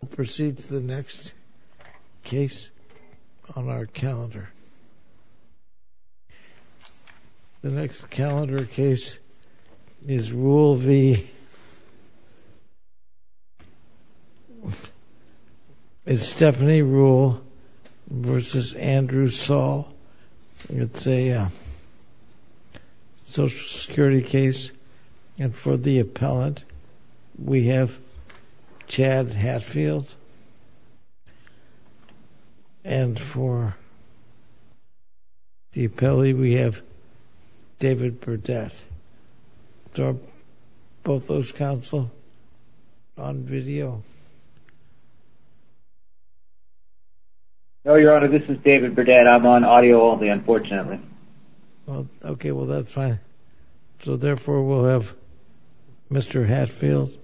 We'll proceed to the next case on our calendar. The next calendar case is Rule v. Stephanie Rule v. Andrew Saul. It's a Social Security case, and for the appellant, we have Chad Hatfield, and for the appellee, we have David Burdette. Are both those counsel on video? No, Your Honor, this is David Burdette. I'm on audio only, unfortunately. Okay, well, that's fine. So, therefore, we'll have Mr. Hatfield,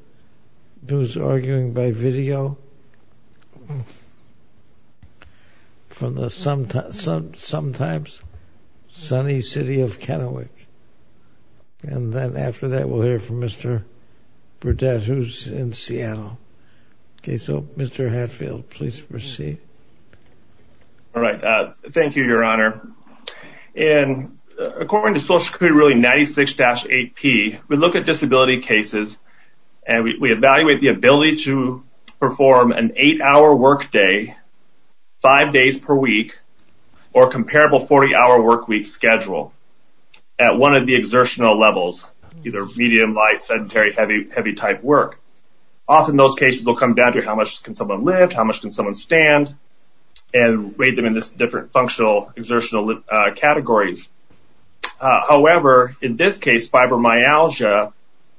who's arguing by video, from the sometimes sunny city of Kennewick. And then after that, we'll hear from Mr. Burdette, who's in Seattle. Okay, so, Mr. Hatfield, please proceed. All right, thank you, Your Honor. According to Social Security Ruling 96-8P, we look at disability cases, and we evaluate the ability to perform an 8-hour workday, 5 days per week, or a comparable 40-hour workweek schedule at one of the exertional levels, either medium, light, sedentary, heavy type work. Often those cases will come down to how much can someone lift, how much can someone stand, and rate them in these different functional exertional categories. However, in this case, fibromyalgia,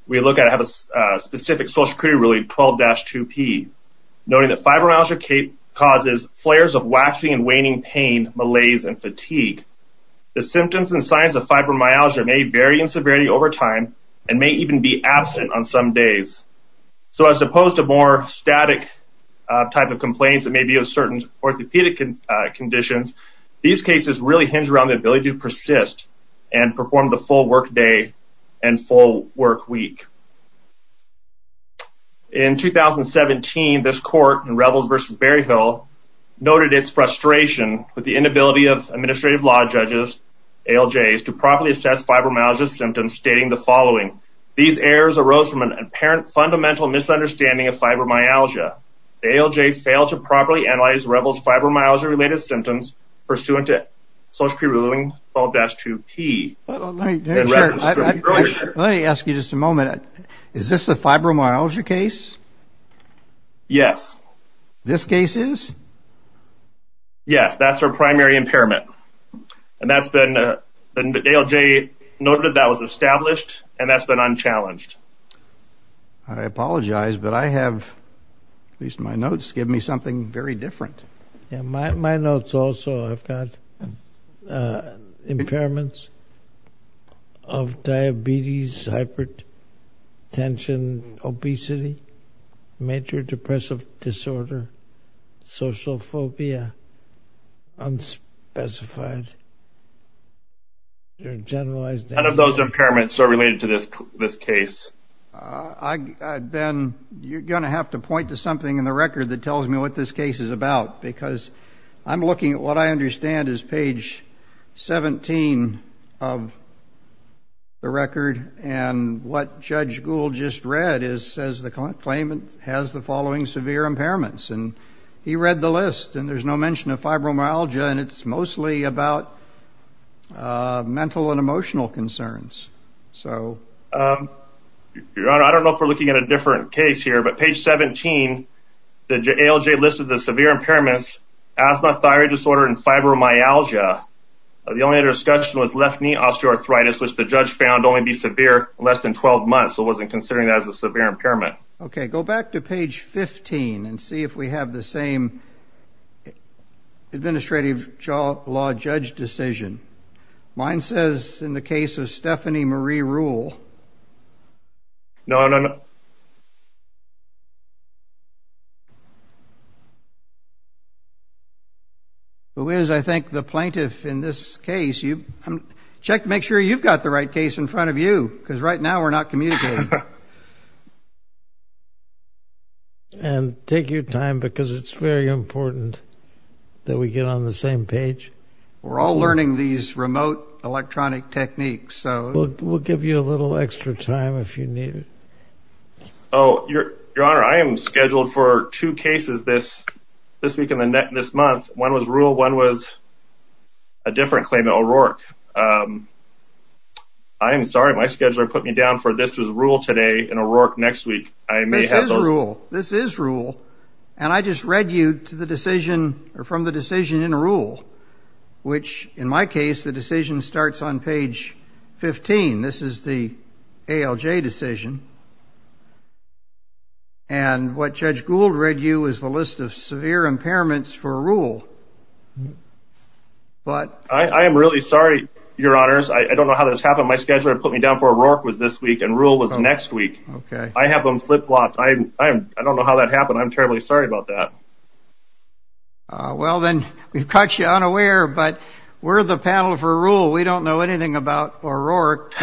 we look at a specific Social Security Ruling 12-2P, noting that fibromyalgia causes flares of waxing and waning pain, malaise, and fatigue. The symptoms and signs of fibromyalgia may vary in severity over time and may even be absent on some days. So as opposed to more static type of complaints that may be of certain orthopedic conditions, these cases really hinge around the ability to persist and perform the full workday and full workweek. In 2017, this court in Revels v. Berryhill noted its frustration with the inability of administrative law judges, ALJs, to properly assess fibromyalgia symptoms, stating the following, these errors arose from an apparent fundamental misunderstanding of fibromyalgia. The ALJ failed to properly analyze Revels' fibromyalgia-related symptoms pursuant to Social Security Ruling 12-2P. Let me ask you just a moment. Is this a fibromyalgia case? Yes. This case is? Yes, that's our primary impairment. And that's been, the ALJ noted that was established, and that's been unchallenged. I apologize, but I have, at least in my notes, given me something very different. My notes also have got impairments of diabetes, hypertension, obesity, major depressive disorder, social phobia, unspecified. None of those impairments are related to this case. Then you're going to have to point to something in the record that tells me what this case is about, because I'm looking at what I understand is page 17 of the record, and what Judge Gould just read says the claimant has the following severe impairments. And he read the list, and there's no mention of fibromyalgia, and it's mostly about mental and emotional concerns. Your Honor, I don't know if we're looking at a different case here, but page 17, the ALJ listed the severe impairments, asthma, thyroid disorder, and fibromyalgia. The only other discussion was left knee osteoarthritis, which the judge found only to be severe in less than 12 months, so wasn't considering that as a severe impairment. Okay, go back to page 15 and see if we have the same administrative law judge decision. Mine says in the case of Stephanie Marie Rule. No, no, no. Who is, I think, the plaintiff in this case? Check to make sure you've got the right case in front of you, because right now we're not communicating. And take your time, because it's very important that we get on the same page. We're all learning these remote electronic techniques. We'll give you a little extra time if you need it. Your Honor, I am scheduled for two cases this week and this month. One was Rule. One was a different claim in O'Rourke. I am sorry. My scheduler put me down for this was Rule today and O'Rourke next week. This is Rule. This is Rule. And I just read you from the decision in Rule, which, in my case, the decision starts on page 15. This is the ALJ decision. And what Judge Gould read you is the list of severe impairments for Rule. I am really sorry, Your Honors. I don't know how this happened. My scheduler put me down for O'Rourke was this week and Rule was next week. I have them flip-flopped. I don't know how that happened. I'm terribly sorry about that. Well, then, we've caught you unaware, but we're the panel for Rule. We don't know anything about O'Rourke.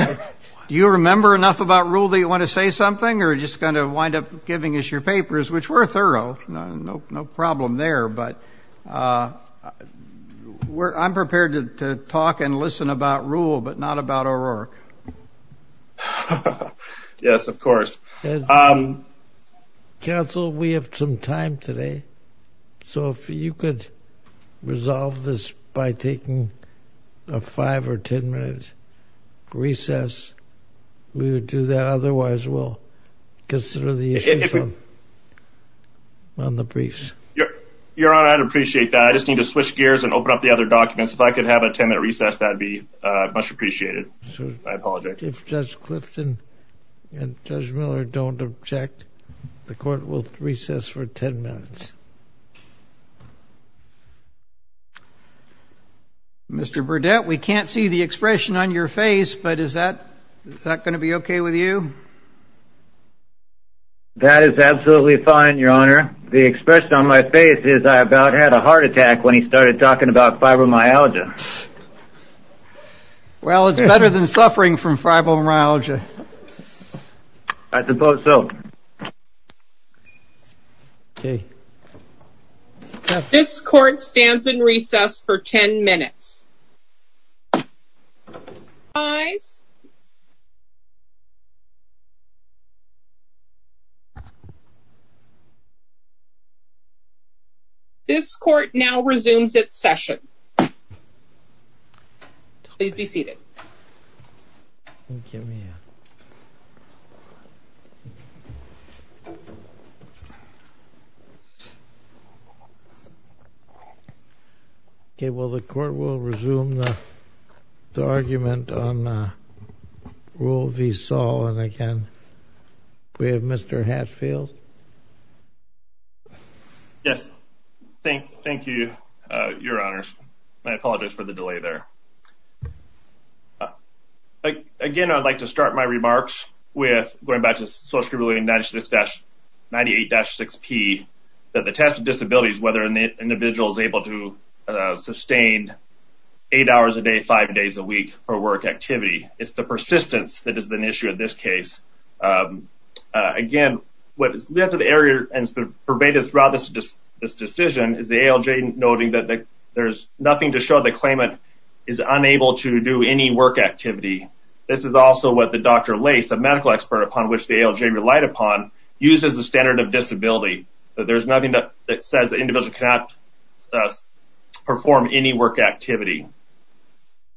Do you remember enough about Rule that you want to say something or are you just going to wind up giving us your papers, which were thorough? No problem there, but I'm prepared to talk and listen about Rule but not about O'Rourke. Yes, of course. Counsel, we have some time today. So if you could resolve this by taking a five- or ten-minute recess, we would do that. Otherwise, we'll consider the issues on the briefs. Your Honor, I'd appreciate that. I just need to switch gears and open up the other documents. If I could have a ten-minute recess, that would be much appreciated. I apologize. If Judge Clifton and Judge Miller don't object, the Court will recess for ten minutes. Mr. Burdett, we can't see the expression on your face, but is that going to be okay with you? That is absolutely fine, Your Honor. The expression on my face is I about had a heart attack when he started talking about fibromyalgia. Well, it's better than suffering from fibromyalgia. I suppose so. This Court stands in recess for ten minutes. This Court now resumes its session. Please be seated. Okay, well, the Court will resume the argument on Rule v. Saul. And again, we have Mr. Hatfield. Yes. Thank you, Your Honors. I apologize for the delay there. Again, I'd like to start my remarks with going back to Social Security 96-98-6P, that the test of disability is whether an individual is able to sustain eight hours a day, five days a week for work activity. It's the persistence that is an issue in this case. Again, what is left of the area and is pervaded throughout this decision is the ALJ noting that there's nothing to show the claimant is unable to do any work activity. This is also what the Dr. Lace, a medical expert upon which the ALJ relied upon, used as the standard of disability, that there's nothing that says the individual cannot perform any work activity.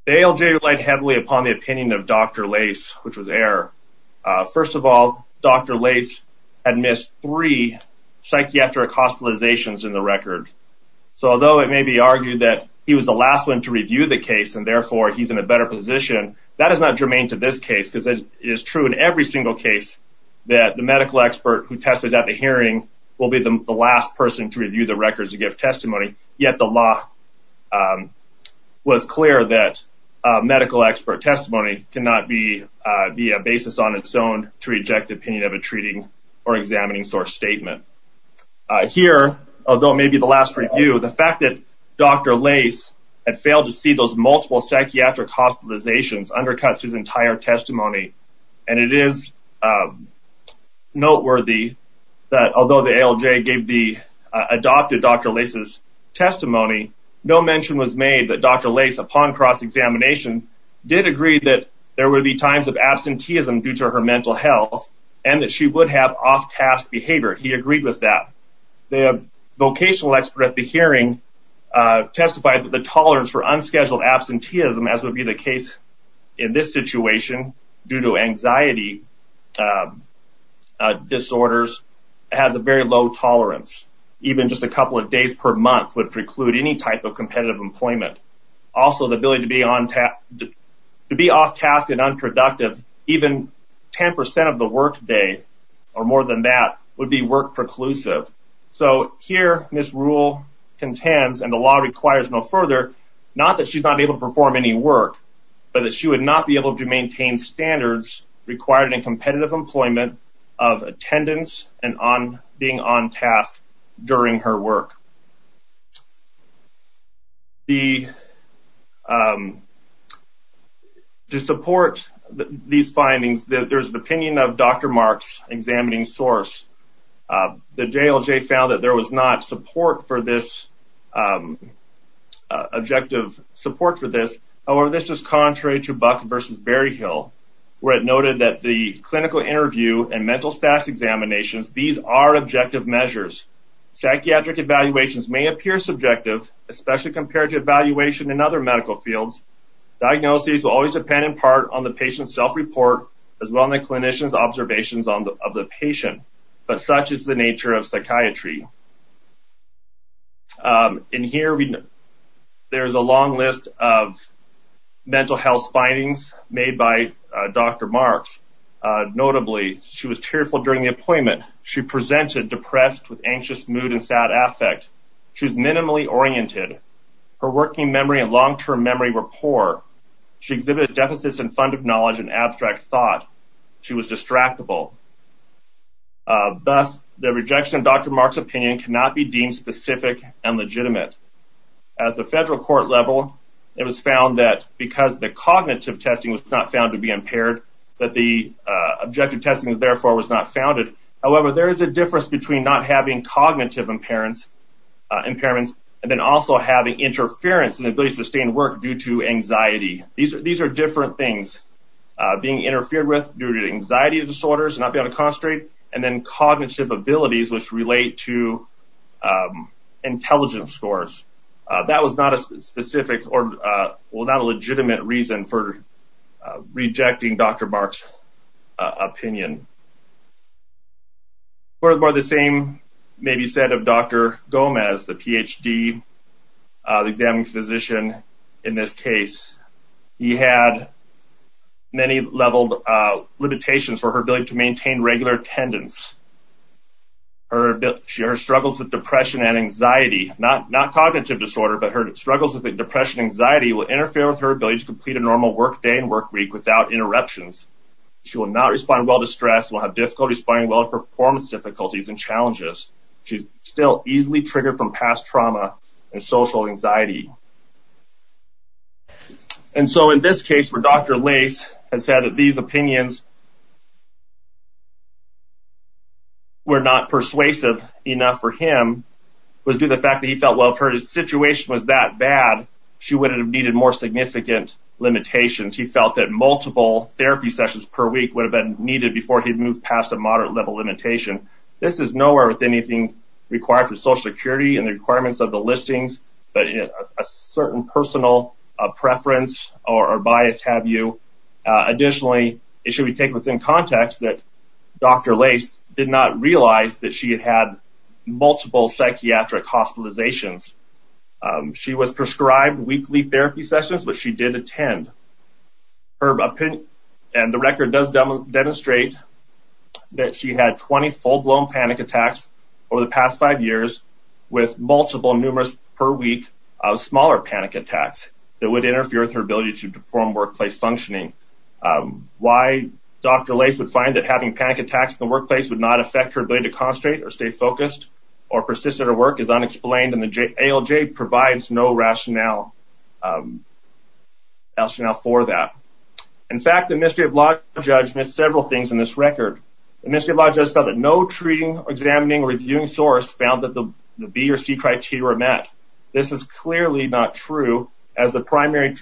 The ALJ relied heavily upon the opinion of Dr. Lace, which was error. First of all, Dr. Lace had missed three psychiatric hospitalizations in the record. So although it may be argued that he was the last one to review the case and therefore he's in a better position, that is not germane to this case because it is true in every single case that the medical expert who tested at the hearing will be the last person to review the records to give testimony, yet the law was clear that medical expert testimony cannot be a basis on its own to reject the opinion of a treating or examining source statement. Here, although it may be the last review, the fact that Dr. Lace had failed to see those multiple psychiatric hospitalizations undercuts his entire testimony, and it is noteworthy that although the ALJ adopted Dr. Lace's testimony, no mention was made that Dr. Lace, upon cross-examination, did agree that there would be times of absenteeism due to her mental health and that she would have off-task behavior. He agreed with that. The vocational expert at the hearing testified that the tolerance for unscheduled absenteeism, as would be the case in this situation due to anxiety disorders, has a very low tolerance. Even just a couple of days per month would preclude any type of competitive employment. Also, the ability to be off-task and unproductive, even 10% of the workday or more than that, would be work-preclusive. So here Ms. Rule contends, and the law requires no further, not that she's not able to perform any work, but that she would not be able to maintain standards required in competitive employment of attendance and being on-task during her work. To support these findings, there's an opinion of Dr. Mark's examining source. The JLJ found that there was not objective support for this. However, this is contrary to Buck v. Berryhill, where it noted that the clinical interview and mental status examinations, these are objective measures. Psychiatric evaluations may appear subjective, especially compared to evaluation in other medical fields. Diagnoses will always depend, in part, on the patient's self-report, as well as the clinician's observations of the patient. But such is the nature of psychiatry. In here, there's a long list of mental health findings made by Dr. Mark's. Notably, she was tearful during the appointment. She presented depressed with anxious mood and sad affect. She was minimally oriented. Her working memory and long-term memory were poor. She exhibited deficits in fund of knowledge and abstract thought. She was distractible. Thus, the rejection of Dr. Mark's opinion cannot be deemed specific and legitimate. At the federal court level, it was found that because the cognitive testing was not found to be impaired, that the objective testing, therefore, was not founded. However, there is a difference between not having cognitive impairments and then also having interference in the ability to sustain work due to anxiety. These are different things, being interfered with due to anxiety disorders, not being able to concentrate, and then cognitive abilities, which relate to intelligence scores. That was not a specific or not a legitimate reason for rejecting Dr. Mark's opinion. Furthermore, the same may be said of Dr. Gomez, the Ph.D., the examining physician in this case. He had many level limitations for her ability to maintain regular attendance. Her struggles with depression and anxiety, not cognitive disorder, but her struggles with depression and anxiety will interfere with her ability to complete a normal work day and work week without interruptions. She will not respond well to stress, will have difficulty responding well to performance difficulties and challenges. She's still easily triggered from past trauma and social anxiety. And so in this case, where Dr. Lace has said that these opinions were not persuasive enough for him, was due to the fact that he felt, well, if her situation was that bad, she would have needed more significant limitations. He felt that multiple therapy sessions per week would have been needed before he moved past a moderate level limitation. This is nowhere within anything required for Social Security and the requirements of the listings, but a certain personal preference or bias have you. Additionally, it should be taken within context that Dr. Lace did not realize that she had had multiple psychiatric hospitalizations. She was prescribed weekly therapy sessions, but she did attend. And the record does demonstrate that she had 20 full-blown panic attacks over the past five years with multiple numerous per week smaller panic attacks that would interfere with her ability to perform workplace functioning. Why Dr. Lace would find that having panic attacks in the workplace would not affect her ability to concentrate or stay focused or persist at her work is unexplained, and the ALJ provides no rationale for that. In fact, the administrative law judge missed several things in this record. The administrative law judge found that no treating, examining, or reviewing source found that the B or C criteria were met. This is clearly not true as the primary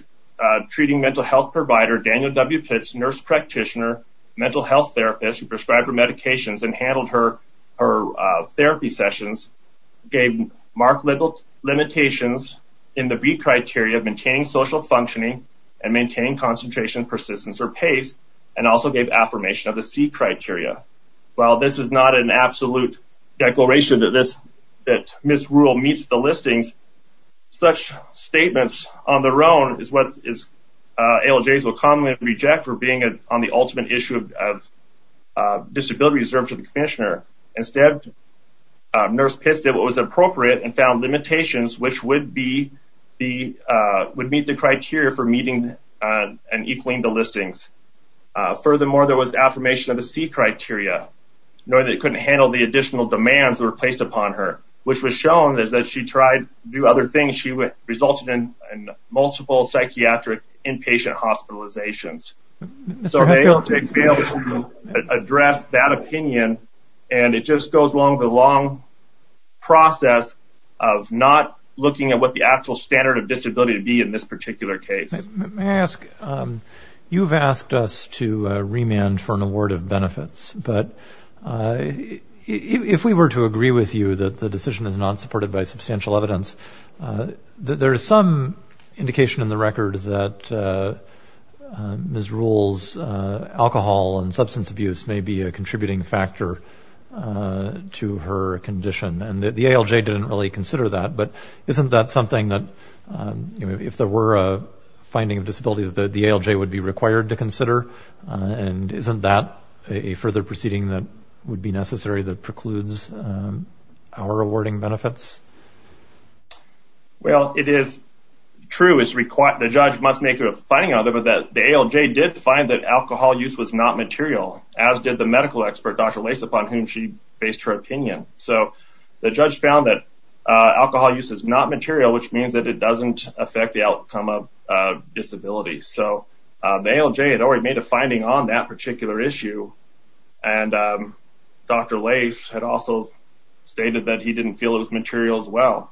treating mental health provider, Daniel W. Pitts, nurse practitioner, mental health therapist who prescribed her medications and handled her therapy sessions, gave marked limitations in the B criteria of maintaining social functioning and maintaining concentration, persistence, or pace, and also gave affirmation of the C criteria. While this is not an absolute declaration that Ms. Rule meets the listings, such statements on their own is what ALJs will commonly reject for being on the ultimate issue of disability reserved for the commissioner. Instead, Nurse Pitts did what was appropriate and found limitations which would meet the criteria for meeting and equaling the listings. Furthermore, there was affirmation of the C criteria, knowing that it couldn't handle the additional demands that were placed upon her, which was shown as that she tried to do other things. She resulted in multiple psychiatric inpatient hospitalizations. So ALJ failed to address that opinion, and it just goes along the long process of not looking at what the actual standard of disability would be in this particular case. You've asked us to remand for an award of benefits, but if we were to agree with you that the decision is not supported by substantial evidence, there is some indication in the record that Ms. Rule's alcohol and substance abuse may be a contributing factor to her condition, and the ALJ didn't really consider that. But isn't that something that, if there were a finding of disability, that the ALJ would be required to consider? And isn't that a further proceeding that would be necessary that precludes our awarding benefits? Well, it is true. The judge must make a finding out that the ALJ did find that alcohol use was not material, as did the medical expert, Dr. Lace, upon whom she based her opinion. So the judge found that alcohol use is not material, which means that it doesn't affect the outcome of disability. So the ALJ had already made a finding on that particular issue, and Dr. Lace had also stated that he didn't feel it was material as well.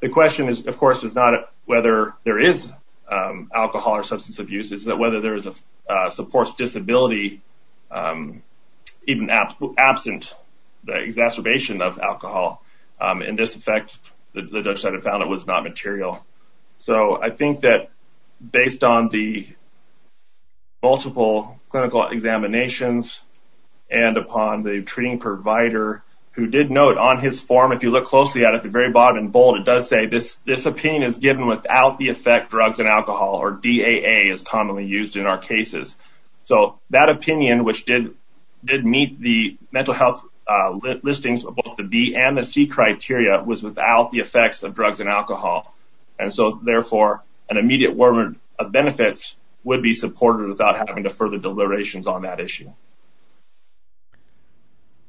The question, of course, is not whether there is alcohol or substance abuse. It's whether there is a supports disability even absent the exacerbation of alcohol. In this effect, the judge said it found it was not material. So I think that based on the multiple clinical examinations and upon the treating provider who did note on his form, if you look closely at it at the very bottom in bold, it does say this opinion is given without the effect drugs and alcohol, or DAA is commonly used in our cases. So that opinion, which did meet the mental health listings of both the B and the C criteria, was without the effects of drugs and alcohol. And so, therefore, an immediate award of benefits would be supported without having to further deliberations on that issue.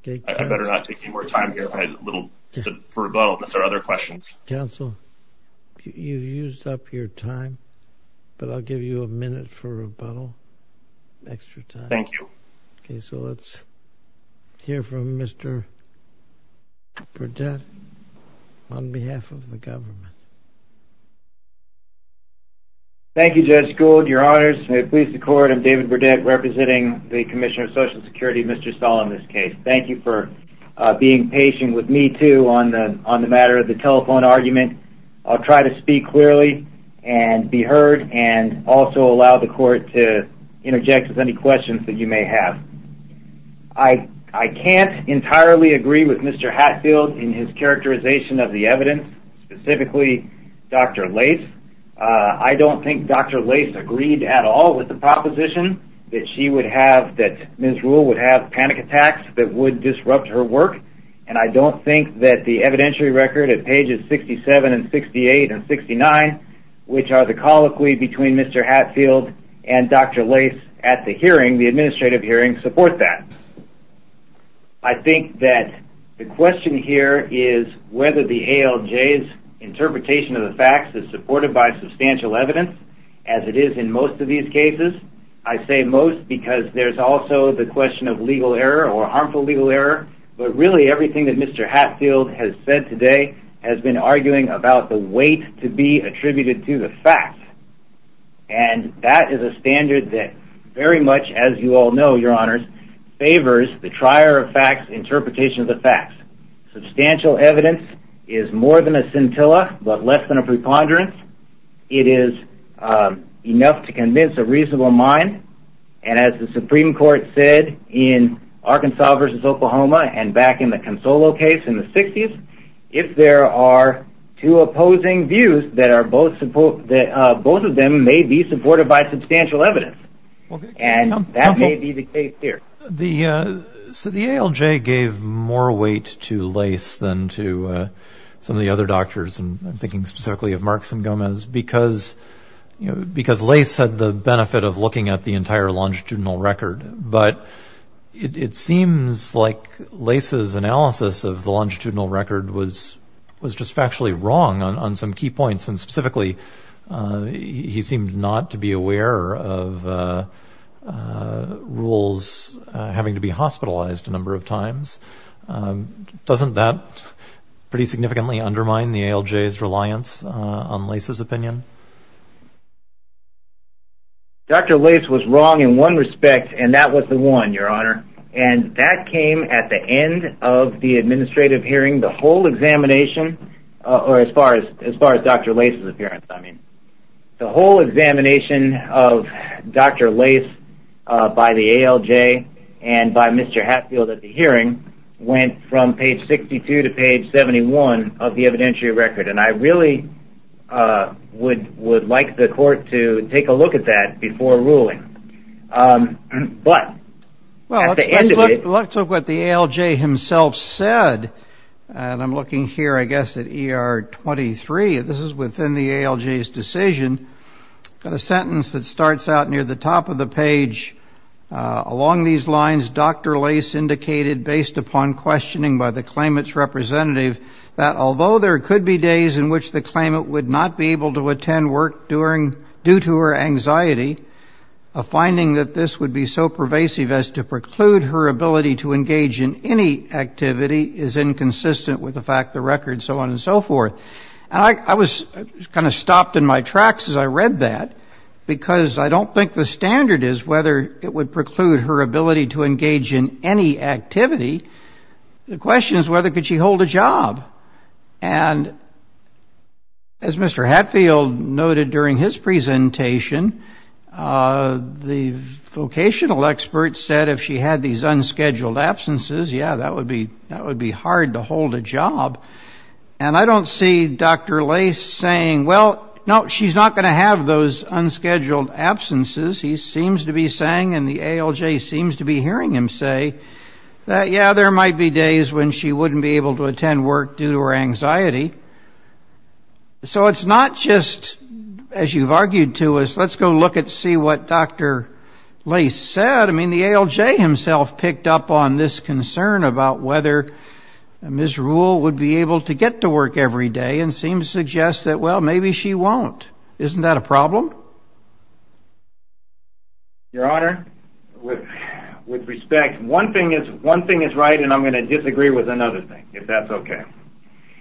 I better not take any more time here for rebuttal unless there are other questions. Counsel, you've used up your time, but I'll give you a minute for rebuttal, extra time. Thank you. Okay, so let's hear from Mr. Burdett on behalf of the government. Thank you, Judge Gould, your honors. May it please the court, I'm David Burdett, representing the Commissioner of Social Security, Mr. Stahl, in this case. Thank you for being patient with me, too, on the matter of the telephone argument. I'll try to speak clearly and be heard and also allow the court to interject with any questions that you may have. I can't entirely agree with Mr. Hatfield in his characterization of the evidence, specifically Dr. Lace. I don't think Dr. Lace agreed at all with the proposition that she would have, that Ms. Rule would have panic attacks that would disrupt her work, and I don't think that the evidentiary record at pages 67 and 68 and 69, which are the colloquy between Mr. Hatfield and Dr. Lace at the hearing, the administrative hearing, support that. I think that the question here is whether the ALJ's interpretation of the facts is supported by substantial evidence, as it is in most of these cases. I say most because there's also the question of legal error or harmful legal error, but really everything that Mr. Hatfield has said today has been arguing about the weight to be attributed to the facts, and that is a standard that very much, as you all know, your honors, favors the trier-of-facts interpretation of the facts. Substantial evidence is more than a scintilla, but less than a preponderance. It is enough to convince a reasonable mind, and as the Supreme Court said in Arkansas v. Oklahoma and back in the Consolo case in the 60s, if there are two opposing views, both of them may be supported by substantial evidence, and that may be the case here. So the ALJ gave more weight to Lace than to some of the other doctors, and I'm thinking specifically of Marks and Gomez, because Lace had the benefit of looking at the entire longitudinal record, but it seems like Lace's analysis of the longitudinal record was just factually wrong on some key points, and specifically he seemed not to be aware of rules having to be hospitalized a number of times. Doesn't that pretty significantly undermine the ALJ's reliance on Lace's opinion? Dr. Lace was wrong in one respect, and that was the one, your honor, and that came at the end of the administrative hearing. The whole examination, or as far as Dr. Lace's appearance, the whole examination of Dr. Lace by the ALJ and by Mr. Hatfield at the hearing went from page 62 to page 71 of the evidentiary record, and I really would like the court to take a look at that before ruling. But at the end of it... Well, let's look at what the ALJ himself said, and I'm looking here, I guess, at ER 23. This is within the ALJ's decision. Got a sentence that starts out near the top of the page. Along these lines, Dr. Lace indicated, based upon questioning by the claimant's representative, that although there could be days in which the claimant would not be able to attend work due to her anxiety, a finding that this would be so pervasive as to preclude her ability to engage in any activity is inconsistent with the fact of the record, so on and so forth. And I was kind of stopped in my tracks as I read that, because I don't think the standard is whether it would preclude her ability to engage in any activity. The question is whether could she hold a job. And as Mr. Hatfield noted during his presentation, the vocational expert said if she had these unscheduled absences, yeah, that would be hard to hold a job. And I don't see Dr. Lace saying, well, no, she's not going to have those unscheduled absences. He seems to be saying, and the ALJ seems to be hearing him say, that, yeah, there might be days when she wouldn't be able to attend work due to her anxiety. So it's not just, as you've argued to us, let's go look and see what Dr. Lace said. I mean, the ALJ himself picked up on this concern about whether Ms. Rule would be able to get to work every day and seems to suggest that, well, maybe she won't. Isn't that a problem? Your Honor, with respect, one thing is right, and I'm going to disagree with another thing, if that's okay.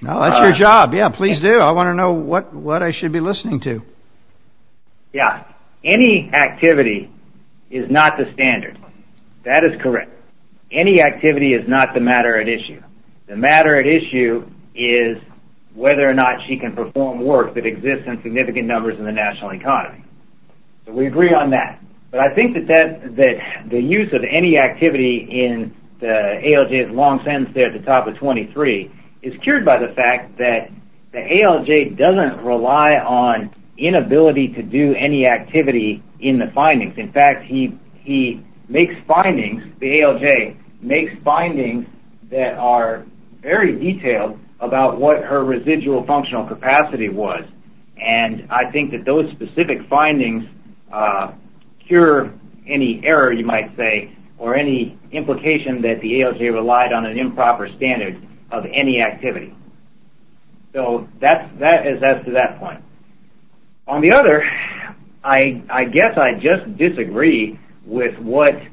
No, that's your job. Yeah, please do. I want to know what I should be listening to. Yeah. Any activity is not the standard. That is correct. Any activity is not the matter at issue. The matter at issue is whether or not she can perform work that exists in significant numbers in the national economy. So we agree on that. But I think that the use of any activity in the ALJ's long sentence there at the top of 23 is cured by the fact that the ALJ doesn't rely on inability to do any activity in the findings. In fact, he makes findings, the ALJ makes findings that are very detailed about what her residual functional capacity was, and I think that those specific findings cure any error, you might say, or any implication that the ALJ relied on an improper standard of any activity. So that is as to that point. On the other, I guess I just disagree with the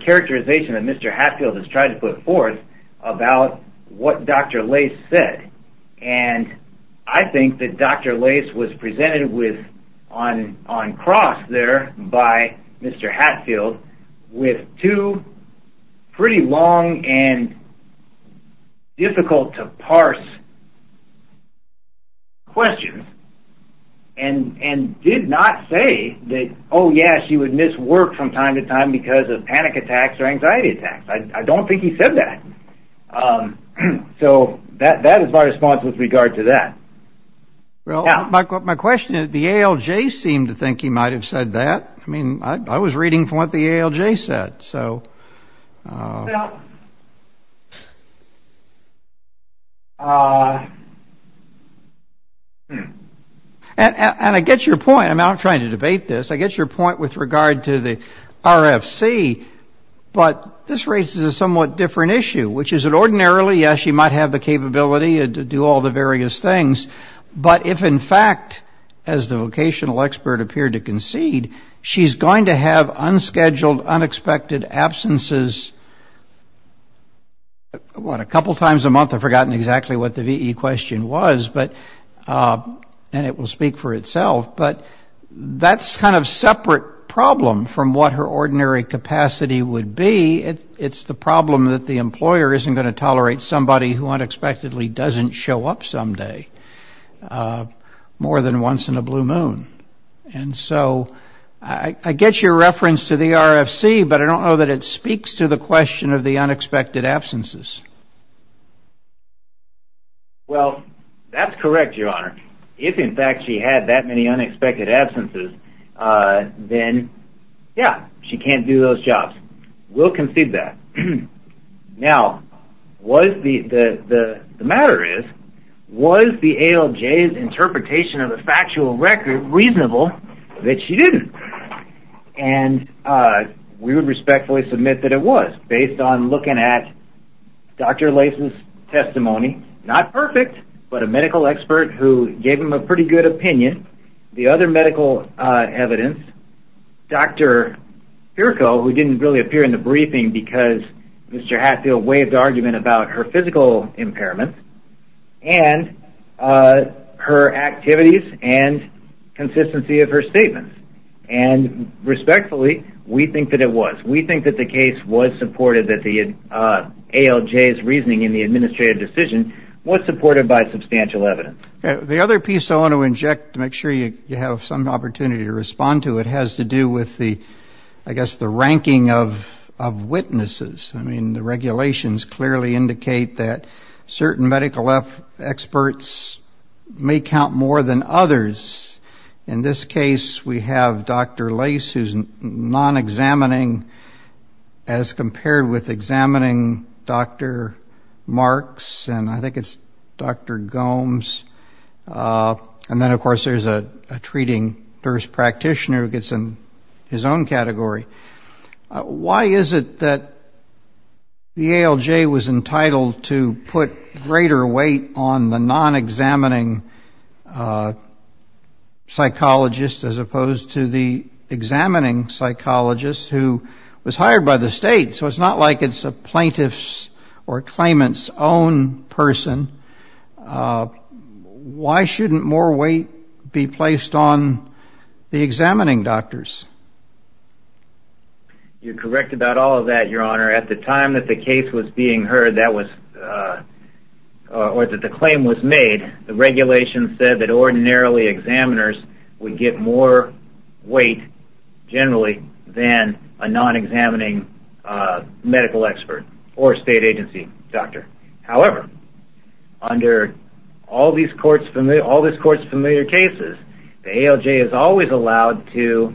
characterization that Mr. Hatfield has tried to put forth about what Dr. Lace said. And I think that Dr. Lace was presented on cross there by Mr. Hatfield with two pretty long and difficult to parse questions and did not say that, oh, yeah, she would miss work from time to time because of panic attacks or anxiety attacks. I don't think he said that. So that is my response with regard to that. Well, my question is, the ALJ seemed to think he might have said that. I mean, I was reading from what the ALJ said. And I get your point. I'm not trying to debate this. I get your point with regard to the RFC. But this raises a somewhat different issue, which is that ordinarily, yes, she might have the capability to do all the various things. But if, in fact, as the vocational expert appeared to concede, she's going to have unscheduled, unexpected absences. What, a couple times a month? I've forgotten exactly what the VE question was, and it will speak for itself. But that's kind of a separate problem from what her ordinary capacity would be. It's the problem that the employer isn't going to tolerate somebody who unexpectedly doesn't show up someday more than once in a blue moon. And so I get your reference to the RFC, but I don't know that it speaks to the question of the unexpected absences. Well, that's correct, Your Honor. If, in fact, she had that many unexpected absences, then, yeah, she can't do those jobs. We'll concede that. Now, the matter is, was the ALJ's interpretation of the factual record reasonable that she didn't? And we would respectfully submit that it was, based on looking at Dr. Latham's testimony. Not perfect, but a medical expert who gave him a pretty good opinion. The other medical evidence, Dr. Pirco, who didn't really appear in the briefing because Mr. Hatfield waved argument about her physical impairment, and her activities and consistency of her statements. And respectfully, we think that it was. We think that the case was supported, that the ALJ's reasoning in the administrative decision was supported by substantial evidence. The other piece I want to inject to make sure you have some opportunity to respond to it has to do with the, I guess, the ranking of witnesses. I mean, the regulations clearly indicate that certain medical experts may count more than others. In this case, we have Dr. Lace, who's non-examining, as compared with examining Dr. Marks, and I think it's Dr. Gomes. And then, of course, there's a treating nurse practitioner who gets in his own category. Why is it that the ALJ was entitled to put greater weight on the non-examining psychologist, as opposed to the examining psychologist who was hired by the state? So it's not like it's a plaintiff's or claimant's own person. Why shouldn't more weight be placed on the examining doctors? You're correct about all of that, Your Honor. At the time that the claim was made, the regulations said that ordinarily examiners would get more weight, generally, than a non-examining medical expert or state agency doctor. However, under all these courts' familiar cases, the ALJ is always allowed to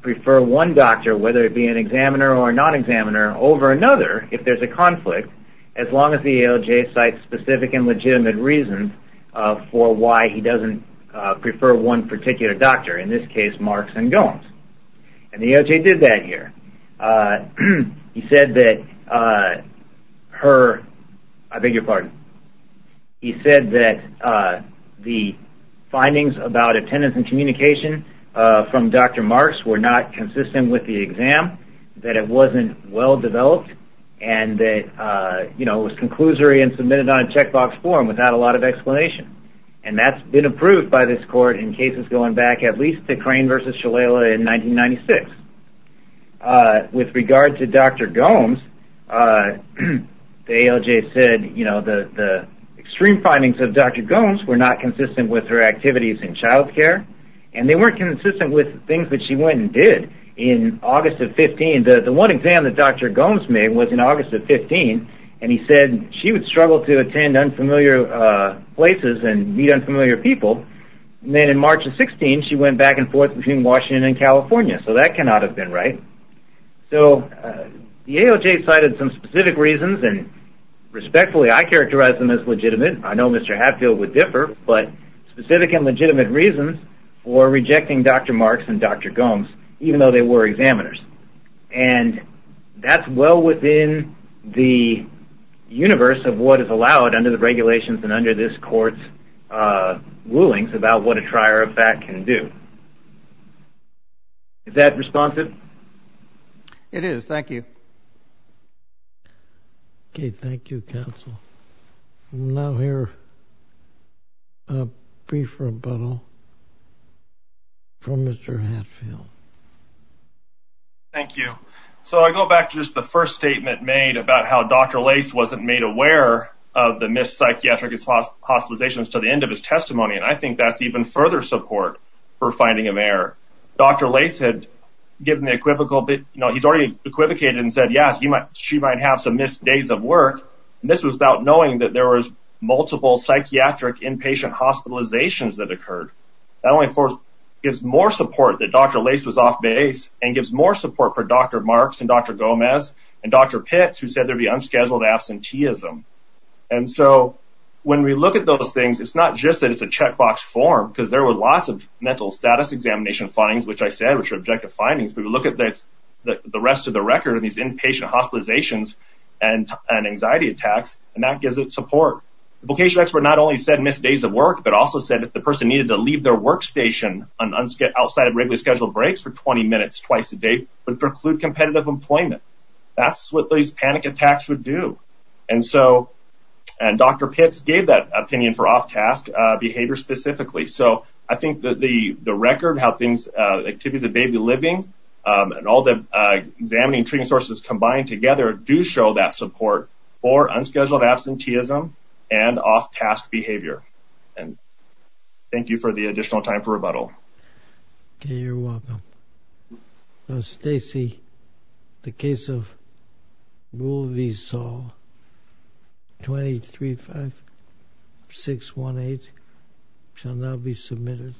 prefer one doctor, whether it be an examiner or a non-examiner, over another if there's a conflict, as long as the ALJ cites specific and legitimate reasons for why he doesn't prefer one particular doctor, in this case, Marks and Gomes. And the ALJ did that here. He said that the findings about attendance and communication from Dr. Marks were not consistent with the exam, that it wasn't well-developed, and that it was conclusory and submitted on a checkbox form without a lot of explanation. And that's been approved by this court in cases going back at least to Crane v. Shalala in 1996. With regard to Dr. Gomes, the ALJ said the extreme findings of Dr. Gomes were not consistent with her activities in child care, and they weren't consistent with things that she went and did. In August of 15, the one exam that Dr. Gomes made was in August of 15, and he said she would struggle to attend unfamiliar places and meet unfamiliar people. And then in March of 16, she went back and forth between Washington and California. So that cannot have been right. So the ALJ cited some specific reasons, and respectfully, I characterize them as legitimate. I know Mr. Hatfield would differ, but specific and legitimate reasons for rejecting Dr. Marks and Dr. Gomes, even though they were examiners. And that's well within the universe of what is allowed under the regulations and under this court's rulings about what a trier of fact can do. Is that responsive? It is. Thank you. Okay, thank you, counsel. We'll now hear a brief rebuttal from Mr. Hatfield. Thank you. So I go back to just the first statement made about how Dr. Lace wasn't made aware of the missed psychiatric hospitalizations to the end of his testimony, and I think that's even further support for finding him there. Dr. Lace had given the equivocal bit. You know, he's already equivocated and said, yeah, she might have some missed days of work. And this was without knowing that there was multiple psychiatric inpatient hospitalizations that occurred. That only gives more support that Dr. Lace was off base and gives more support for Dr. Marks and Dr. Gomes and Dr. Pitts who said there'd be unscheduled absenteeism. And so when we look at those things, it's not just that it's a checkbox form because there were lots of mental status examination findings, which I said were subjective findings, but we look at the rest of the record of these inpatient hospitalizations and anxiety attacks, and that gives it support. The vocational expert not only said missed days of work but also said that the person needed to leave their workstation outside of regularly scheduled breaks for 20 minutes twice a day would preclude competitive employment. That's what these panic attacks would do. And so Dr. Pitts gave that opinion for off-task behavior specifically. So I think the record, how things, activities of daily living and all the examining treating sources combined together do show that support for unscheduled absenteeism and off-task behavior. And thank you for the additional time for rebuttal. Okay, you're welcome. Stacey, the case of Rule v. Saul, 235618 shall now be submitted.